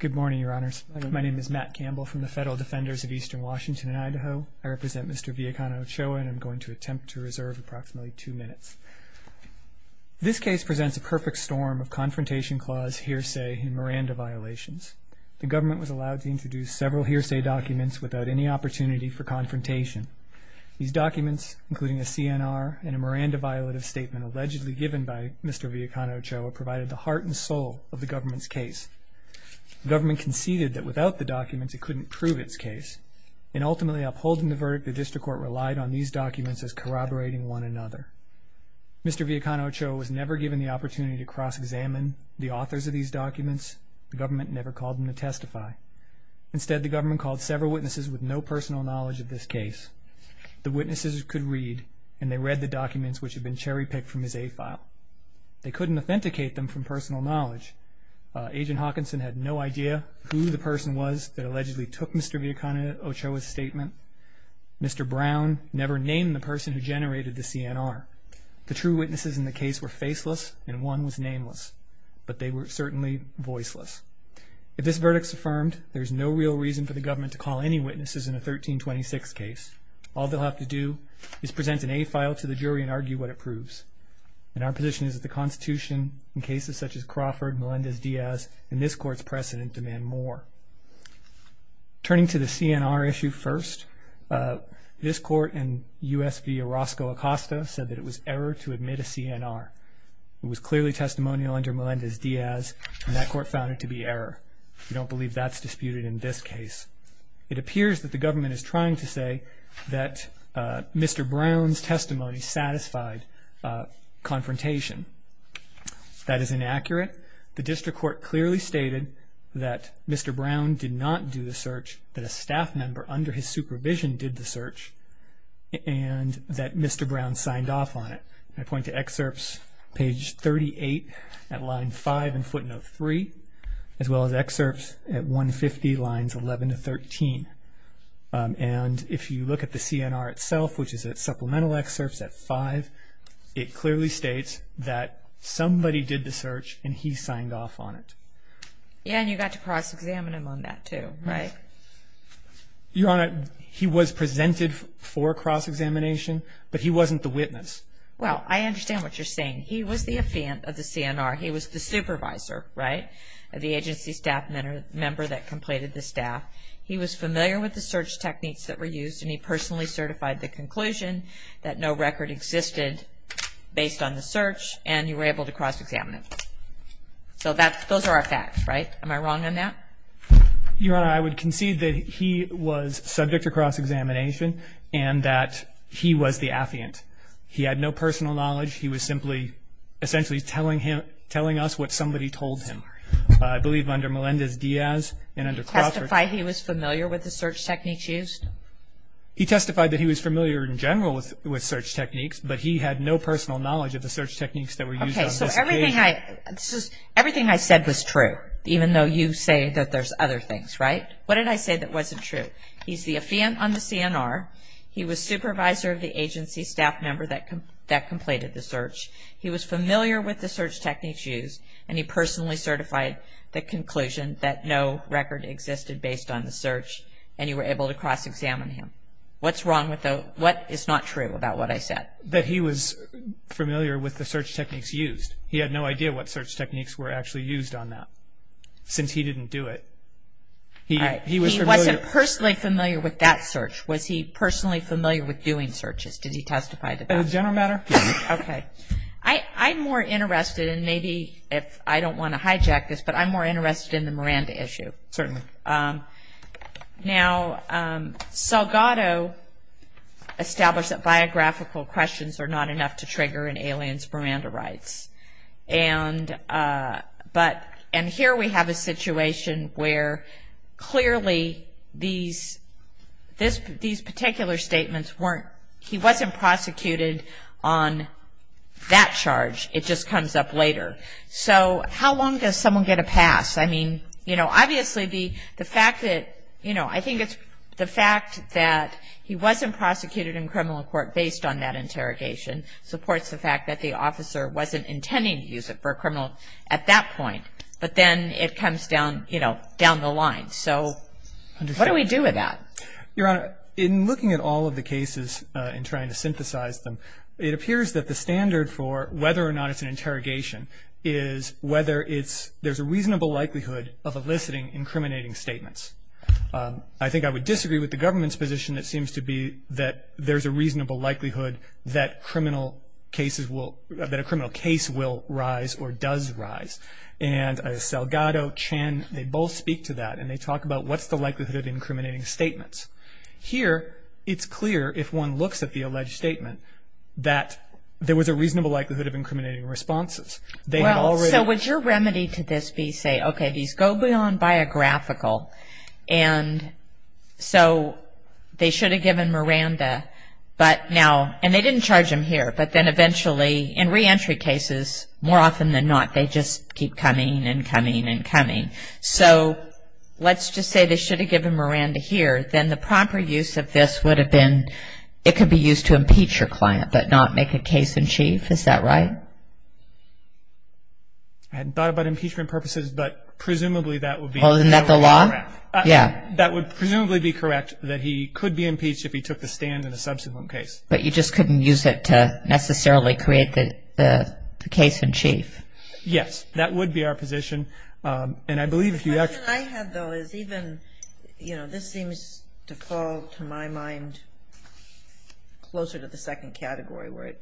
Good morning, Your Honors. My name is Matt Campbell from the Federal Defenders of Eastern Washington and Idaho. I represent Mr. Villacana-Ochoa, and I'm going to attempt to reserve approximately two minutes. This case presents a perfect storm of confrontation clause hearsay and Miranda violations. The government was allowed to introduce several hearsay documents without any opportunity for confrontation. These documents, including a CNR and a Miranda violative statement allegedly given by Mr. Villacana-Ochoa, provided the heart and soul of the government's case. The government conceded that without the documents it couldn't prove its case, and ultimately upholding the verdict, the district court relied on these documents as corroborating one another. Mr. Villacana-Ochoa was never given the opportunity to cross-examine the authors of these documents. The government never called him to testify. Instead, the government called several witnesses with no personal knowledge of this case. The witnesses could read, and they read the documents which had been cherry-picked from his A-file. They couldn't authenticate them from personal knowledge. Agent Hawkinson had no idea who the person was that allegedly took Mr. Villacana-Ochoa's statement. Mr. Brown never named the person who generated the CNR. The true witnesses in the case were faceless, and one was nameless, but they were certainly voiceless. If this verdict is affirmed, there is no real reason for the government to call any witnesses in a 1326 case. All they'll have to do is present an A-file to the jury and argue what it proves. And our position is that the Constitution, in cases such as Crawford, Melendez-Diaz, and this Court's precedent demand more. Turning to the CNR issue first, this Court and U.S. v. Orozco Acosta said that it was error to admit a CNR. It was clearly testimonial under Melendez-Diaz, and that Court found it to be error. We don't believe that's disputed in this case. It appears that the government is trying to say that Mr. Brown's testimony satisfied confrontation. That is inaccurate. The District Court clearly stated that Mr. Brown did not do the search, that a staff member under his supervision did the search, and that Mr. Brown signed off on it. I point to excerpts page 38 at line 5 in footnote 3, as well as excerpts at 150 lines 11 to 13. And if you look at the CNR itself, which is at supplemental excerpts at 5, it clearly states that somebody did the search and he signed off on it. Yeah, and you got to cross-examine him on that too, right? Your Honor, he was presented for cross-examination, but he wasn't the witness. Well, I understand what you're saying. He was the affiant of the CNR. He was the supervisor, right, of the agency staff member that completed the staff. He was familiar with the search techniques that were used, and he personally certified the conclusion that no record existed based on the search, and you were able to cross-examine him. So those are our facts, right? Am I wrong on that? Your Honor, I would concede that he was subject to cross-examination and that he was the affiant. He had no personal knowledge. He was simply essentially telling us what somebody told him. I believe under Melendez-Diaz and under Crawford. Did he testify he was familiar with the search techniques used? He testified that he was familiar in general with search techniques, but he had no personal knowledge of the search techniques that were used on this occasion. Everything I said was true, even though you say that there's other things, right? What did I say that wasn't true? He's the affiant on the CNR. He was supervisor of the agency staff member that completed the search. He was familiar with the search techniques used, and he personally certified the conclusion that no record existed based on the search, and you were able to cross-examine him. What is not true about what I said? That he was familiar with the search techniques used. He had no idea what search techniques were actually used on that since he didn't do it. He wasn't personally familiar with that search. Was he personally familiar with doing searches? Did he testify to that? As a general matter, yes. Okay. I'm more interested in maybe if I don't want to hijack this, but I'm more interested in the Miranda issue. Certainly. Now, Salgado established that biographical questions are not enough to trigger an alien's Miranda rights, and here we have a situation where clearly these particular statements weren't, he wasn't prosecuted on that charge. It just comes up later. So how long does someone get a pass? I mean, you know, obviously the fact that, you know, I think it's the fact that he wasn't prosecuted in criminal court based on that interrogation supports the fact that the officer wasn't intending to use it for a criminal at that point. But then it comes down, you know, down the line. So what do we do with that? Your Honor, in looking at all of the cases and trying to synthesize them, it appears that the standard for whether or not it's an interrogation is whether it's, there's a reasonable likelihood of eliciting incriminating statements. I think I would disagree with the government's position. It seems to be that there's a reasonable likelihood that criminal cases will, that a criminal case will rise or does rise. And Salgado, Chen, they both speak to that, and they talk about what's the likelihood of incriminating statements. Here it's clear if one looks at the alleged statement that there was a reasonable likelihood of incriminating responses. Well, so would your remedy to this be say, okay, these go beyond biographical, and so they should have given Miranda, but now, and they didn't charge him here, but then eventually in reentry cases, more often than not, they just keep coming and coming and coming. So let's just say they should have given Miranda here. Then the proper use of this would have been it could be used to impeach your client but not make a case in chief. Is that right? I hadn't thought about impeachment purposes, but presumably that would be correct. Oh, isn't that the law? Yeah. That would presumably be correct, that he could be impeached if he took the stand in a subsequent case. But you just couldn't use it to necessarily create the case in chief. Yes, that would be our position. The question I have, though, is even, you know, this seems to fall, to my mind, closer to the second category where it,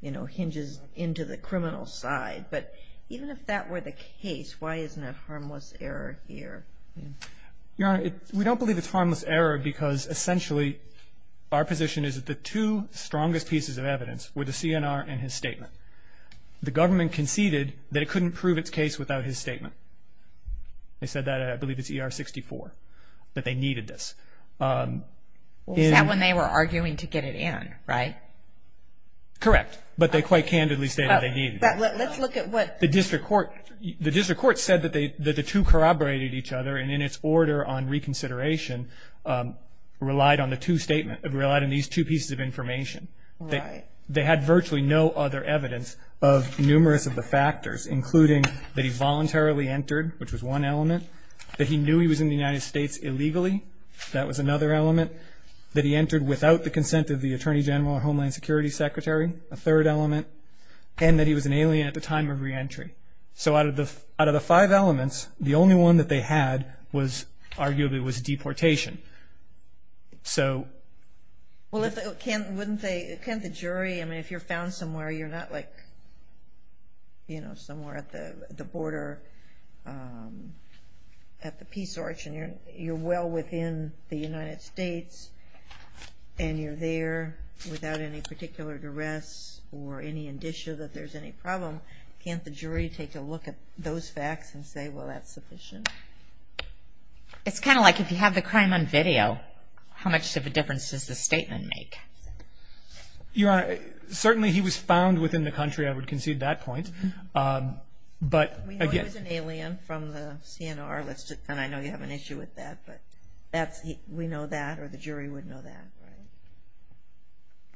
you know, hinges into the criminal side. But even if that were the case, why isn't it harmless error here? Your Honor, we don't believe it's harmless error because, essentially, our position is that the two strongest pieces of evidence were the CNR and his statement. The government conceded that it couldn't prove its case without his statement. They said that, I believe it's ER-64, that they needed this. Is that when they were arguing to get it in, right? Correct. But they quite candidly stated they needed it. Let's look at what the district court. The district court said that the two corroborated each other, and in its order on reconsideration relied on the two statements, relied on these two pieces of information. Right. They had virtually no other evidence of numerous of the factors, including that he voluntarily entered, which was one element, that he knew he was in the United States illegally, that was another element, that he entered without the consent of the Attorney General or Homeland Security Secretary, a third element, and that he was an alien at the time of reentry. So out of the five elements, the only one that they had was arguably was deportation. Well, can't the jury, I mean, if you're found somewhere, you're not like somewhere at the border at the Peace Arch and you're well within the United States and you're there without any particular duress or any indicia that there's any problem, can't the jury take a look at those facts and say, well, that's sufficient? It's kind of like if you have the crime on video, how much of a difference does the statement make? Your Honor, certainly he was found within the country. I would concede that point. We know he was an alien from the CNR, and I know you have an issue with that, but we know that or the jury would know that,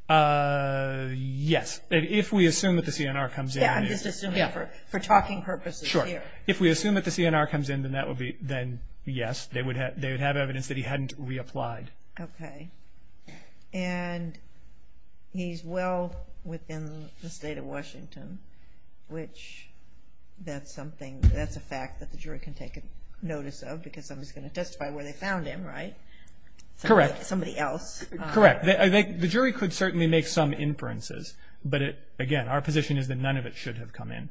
right? Yes. If we assume that the CNR comes in. Yeah, I'm just assuming for talking purposes here. If we assume that the CNR comes in, then yes, they would have evidence that he hadn't reapplied. Okay, and he's well within the state of Washington, which that's a fact that the jury can take notice of because somebody's going to testify where they found him, right? Correct. Somebody else. Correct. The jury could certainly make some inferences, but again, our position is that none of it should have come in.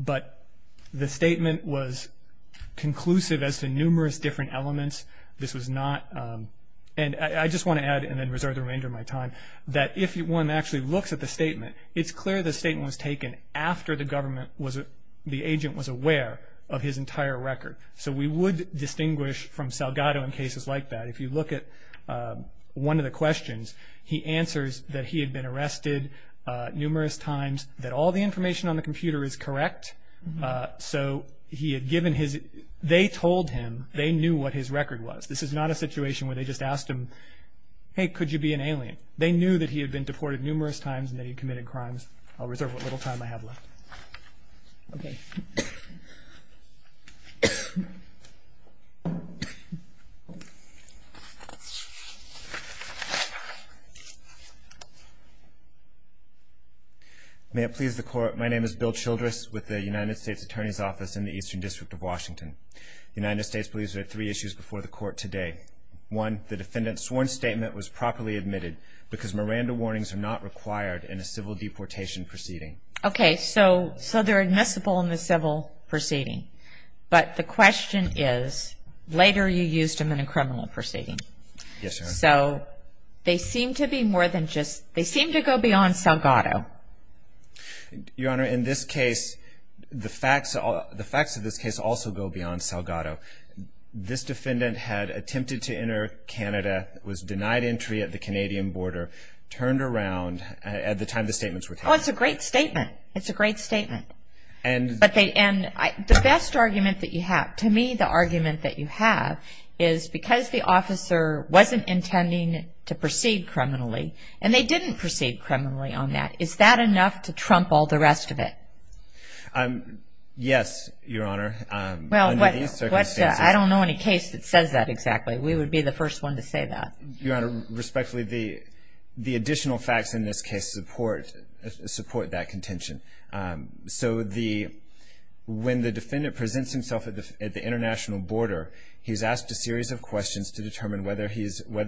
But the statement was conclusive as to numerous different elements. This was not, and I just want to add and then reserve the remainder of my time, that if one actually looks at the statement, it's clear the statement was taken after the government was, the agent was aware of his entire record. So we would distinguish from Salgado in cases like that. If you look at one of the questions, he answers that he had been arrested numerous times, that all the information on the computer is correct. So he had given his, they told him they knew what his record was. This is not a situation where they just asked him, hey, could you be an alien? They knew that he had been deported numerous times and that he had committed crimes. I'll reserve what little time I have left. Okay. May it please the court. My name is Bill Childress with the United States Attorney's Office in the Eastern District of Washington. The United States believes there are three issues before the court today. One, the defendant's sworn statement was properly admitted because Miranda warnings are not required in a civil deportation proceeding. Yes. And they're not required in a civil deportation proceeding. Okay. But the question is, later you used them in a criminal proceeding. Yes, Your Honor. So they seem to be more than just, they seem to go beyond Salgado. Your Honor, in this case, the facts of this case also go beyond Salgado. This defendant had attempted to enter Canada, was denied entry at the Canadian border, turned around at the time the statements were taken. Oh, it's a great statement. It's a great statement. And the best argument that you have, to me the argument that you have, is because the officer wasn't intending to proceed criminally, and they didn't proceed criminally on that, is that enough to trump all the rest of it? Yes, Your Honor. Well, I don't know any case that says that exactly. We would be the first one to say that. Your Honor, respectfully, the additional facts in this case support that contention. So when the defendant presents himself at the international border, he's asked a series of questions to determine whether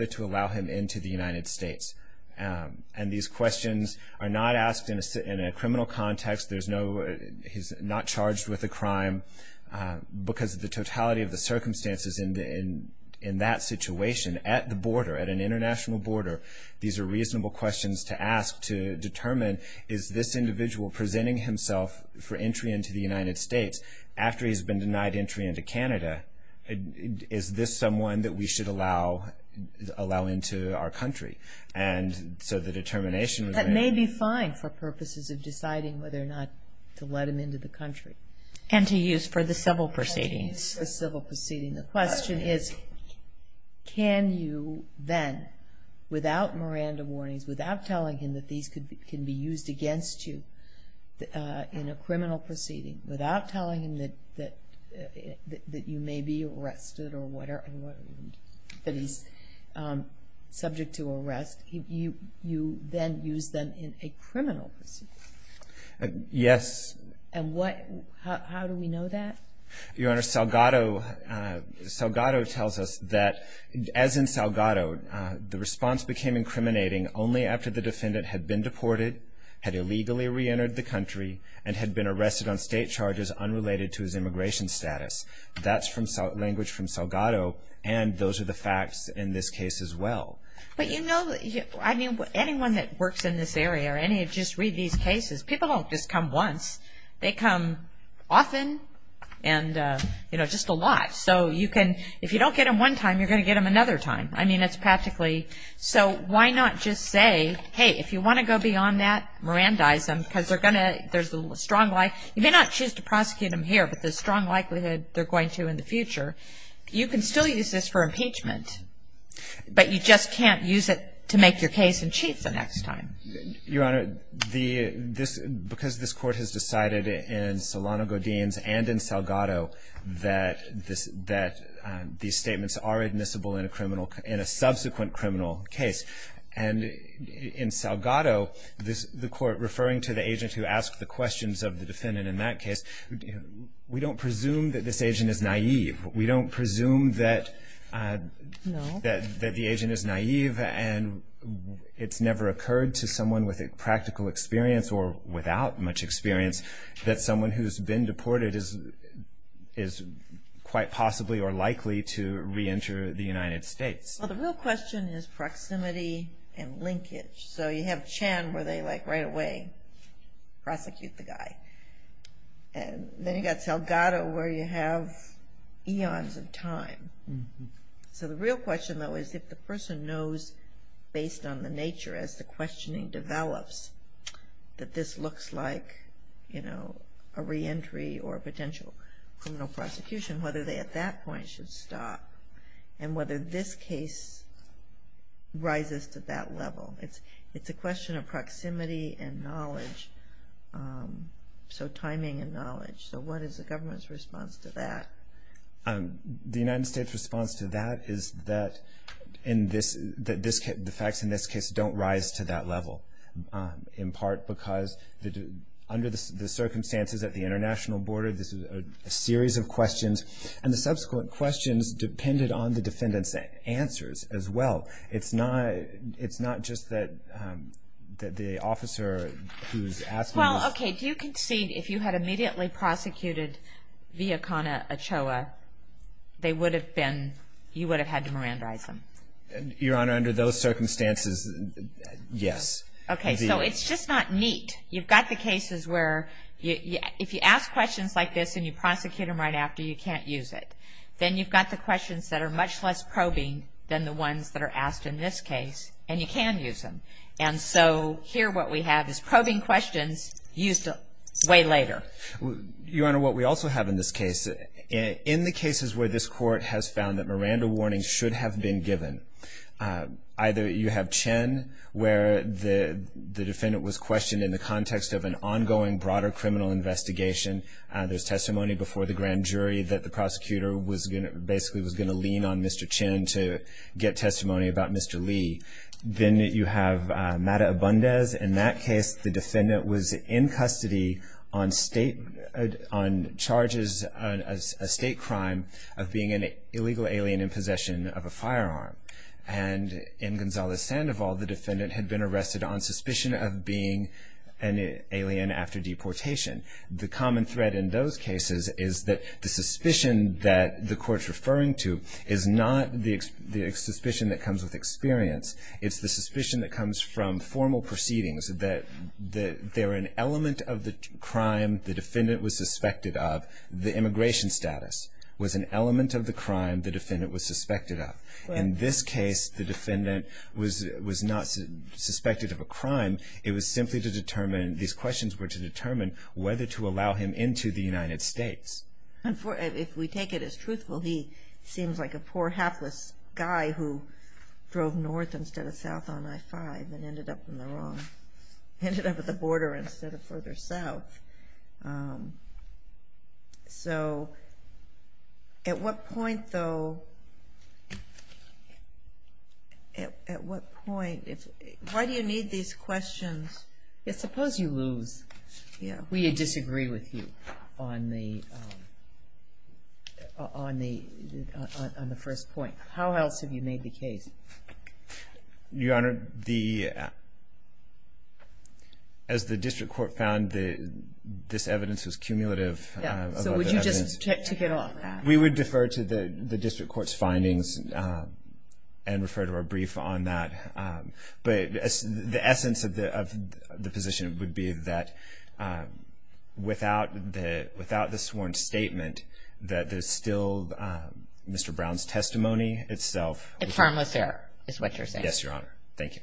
to allow him into the United States. And these questions are not asked in a criminal context. He's not charged with a crime because of the totality of the circumstances in that situation at the border, at an international border. These are reasonable questions to ask to determine, is this individual presenting himself for entry into the United States, after he's been denied entry into Canada, is this someone that we should allow into our country? And so the determination was made. That may be fine for purposes of deciding whether or not to let him into the country. And to use for the civil proceedings. And to use for the civil proceedings. The question is, can you then, without Miranda warnings, without telling him that these can be used against you in a criminal proceeding, without telling him that you may be arrested or that he's subject to arrest, you then use them in a criminal proceeding? Yes. And how do we know that? Your Honor, Salgado tells us that, as in Salgado, the response became incriminating only after the defendant had been deported, had illegally reentered the country, and had been arrested on state charges unrelated to his immigration status. That's language from Salgado. And those are the facts in this case as well. But you know, I mean, anyone that works in this area or any of just read these cases, people don't just come once. They come often and, you know, just a lot. So you can – if you don't get them one time, you're going to get them another time. I mean, it's practically – so why not just say, hey, if you want to go beyond that, Mirandize them because they're going to – there's a strong – you may not choose to prosecute them here, but there's a strong likelihood they're going to in the future. You can still use this for impeachment, but you just can't use it to make your case in chief the next time. Your Honor, the – this – because this Court has decided in Solano-Godin's and in Salgado that this – that these statements are admissible in a criminal – in a subsequent criminal case, and in Salgado, the Court referring to the agent who asked the questions of the defendant in that case, we don't presume that this agent is naive. We don't presume that the agent is naive, and it's never occurred to someone with a practical experience or without much experience that someone who's been deported is quite possibly or likely to reenter the United States. Well, the real question is proximity and linkage. So you have Chan where they, like, right away prosecute the guy. And then you've got Salgado where you have eons of time. So the real question, though, is if the person knows based on the nature as the questioning develops that this looks like, you know, a reentry or a potential criminal prosecution, whether they at that point should stop and whether this case rises to that level. It's a question of proximity and knowledge, so timing and knowledge. So what is the government's response to that? The United States' response to that is that the facts in this case don't rise to that level, in part because under the circumstances at the international border, this is a series of questions, and the subsequent questions depended on the defendant's answers as well. It's not just that the officer who's asking this. Well, okay, do you concede if you had immediately prosecuted Villicana Ochoa, they would have been, you would have had to mirandarize them? Your Honor, under those circumstances, yes. Okay, so it's just not neat. You've got the cases where if you ask questions like this and you prosecute them right after, you can't use it. Then you've got the questions that are much less probing than the ones that are asked in this case, and you can use them. And so here what we have is probing questions used way later. Your Honor, what we also have in this case, in the cases where this Court has found that mirandar warnings should have been given, either you have Chen, where the defendant was questioned in the context of an ongoing broader criminal investigation. There's testimony before the grand jury that the prosecutor was going to, basically was going to lean on Mr. Chen to get testimony about Mr. Lee. Then you have Mata Abundez. In that case, the defendant was in custody on state, on charges, a state crime of being an illegal alien in possession of a firearm. And in Gonzales-Sandoval, the defendant had been arrested on suspicion of being an alien after deportation. The common thread in those cases is that the suspicion that the Court's referring to is not the suspicion that comes with experience. It's the suspicion that comes from formal proceedings, that they're an element of the crime the defendant was suspected of. The immigration status was an element of the crime the defendant was suspected of. In this case, the defendant was not suspected of a crime. It was simply to determine, these questions were to determine, whether to allow him into the United States. If we take it as truthful, he seems like a poor, hapless guy who drove north instead of south on I-5 and ended up in the wrong, ended up at the border instead of further south. So, at what point, though, at what point, why do you need these questions? Suppose you lose. We disagree with you on the first point. How else have you made the case? Your Honor, as the District Court found this evidence was cumulative. So, would you just tick it off? We would defer to the District Court's findings and refer to our brief on that. But the essence of the position would be that without the sworn statement, that there's still Mr. Brown's testimony itself. It's harmless error is what you're saying? Yes, Your Honor. Thank you.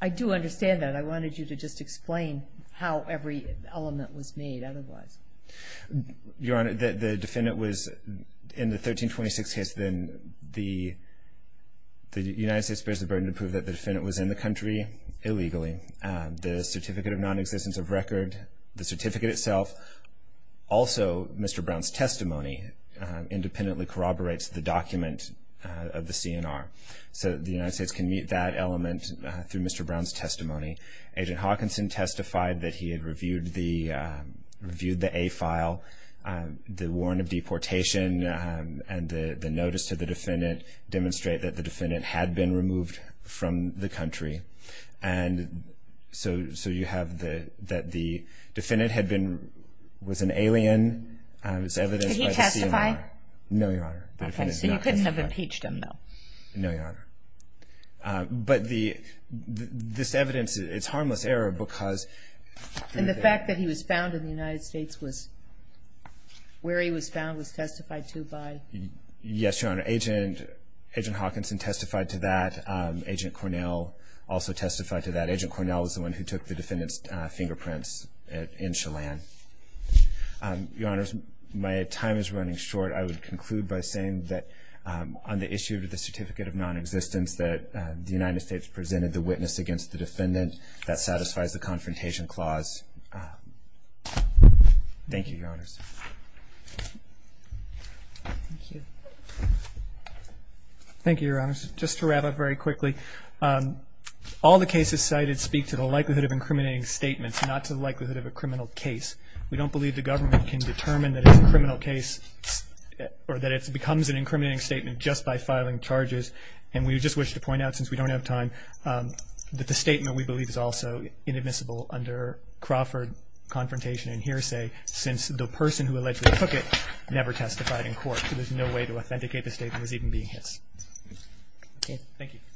I do understand that. I wanted you to just explain how every element was made otherwise. Your Honor, the defendant was in the 1326 case, then the United States bears the burden to prove that the defendant was in the country illegally. The certificate of nonexistence of record, the certificate itself, also Mr. Brown's testimony independently corroborates the document of the CNR. So, the United States can meet that element through Mr. Brown's testimony. Agent Hawkinson testified that he had reviewed the A file. The warrant of deportation and the notice to the defendant demonstrate that the defendant had been removed from the country. And so, you have that the defendant was an alien as evidenced by the CNR. Did he testify? No, Your Honor. Okay, so you couldn't have impeached him, though. No, Your Honor. But this evidence, it's harmless error because And the fact that he was found in the United States was where he was found was testified to by Yes, Your Honor. Agent Hawkinson testified to that. Agent Cornell also testified to that. Agent Cornell was the one who took the defendant's fingerprints in Chelan. Your Honors, my time is running short. I would conclude by saying that on the issue of the certificate of non-existence that the United States presented the witness against the defendant. That satisfies the confrontation clause. Thank you, Your Honors. Thank you. Thank you, Your Honors. Just to wrap up very quickly, all the cases cited speak to the likelihood of incriminating statements, not to the likelihood of a criminal case. We don't believe the government can determine that it's a criminal case or that it becomes an incriminating statement just by filing charges. And we just wish to point out, since we don't have time, that the statement we believe is also inadmissible under Crawford confrontation and hearsay since the person who allegedly took it never testified in court. So there's no way to authenticate the statement as even being his. Okay. Thank you.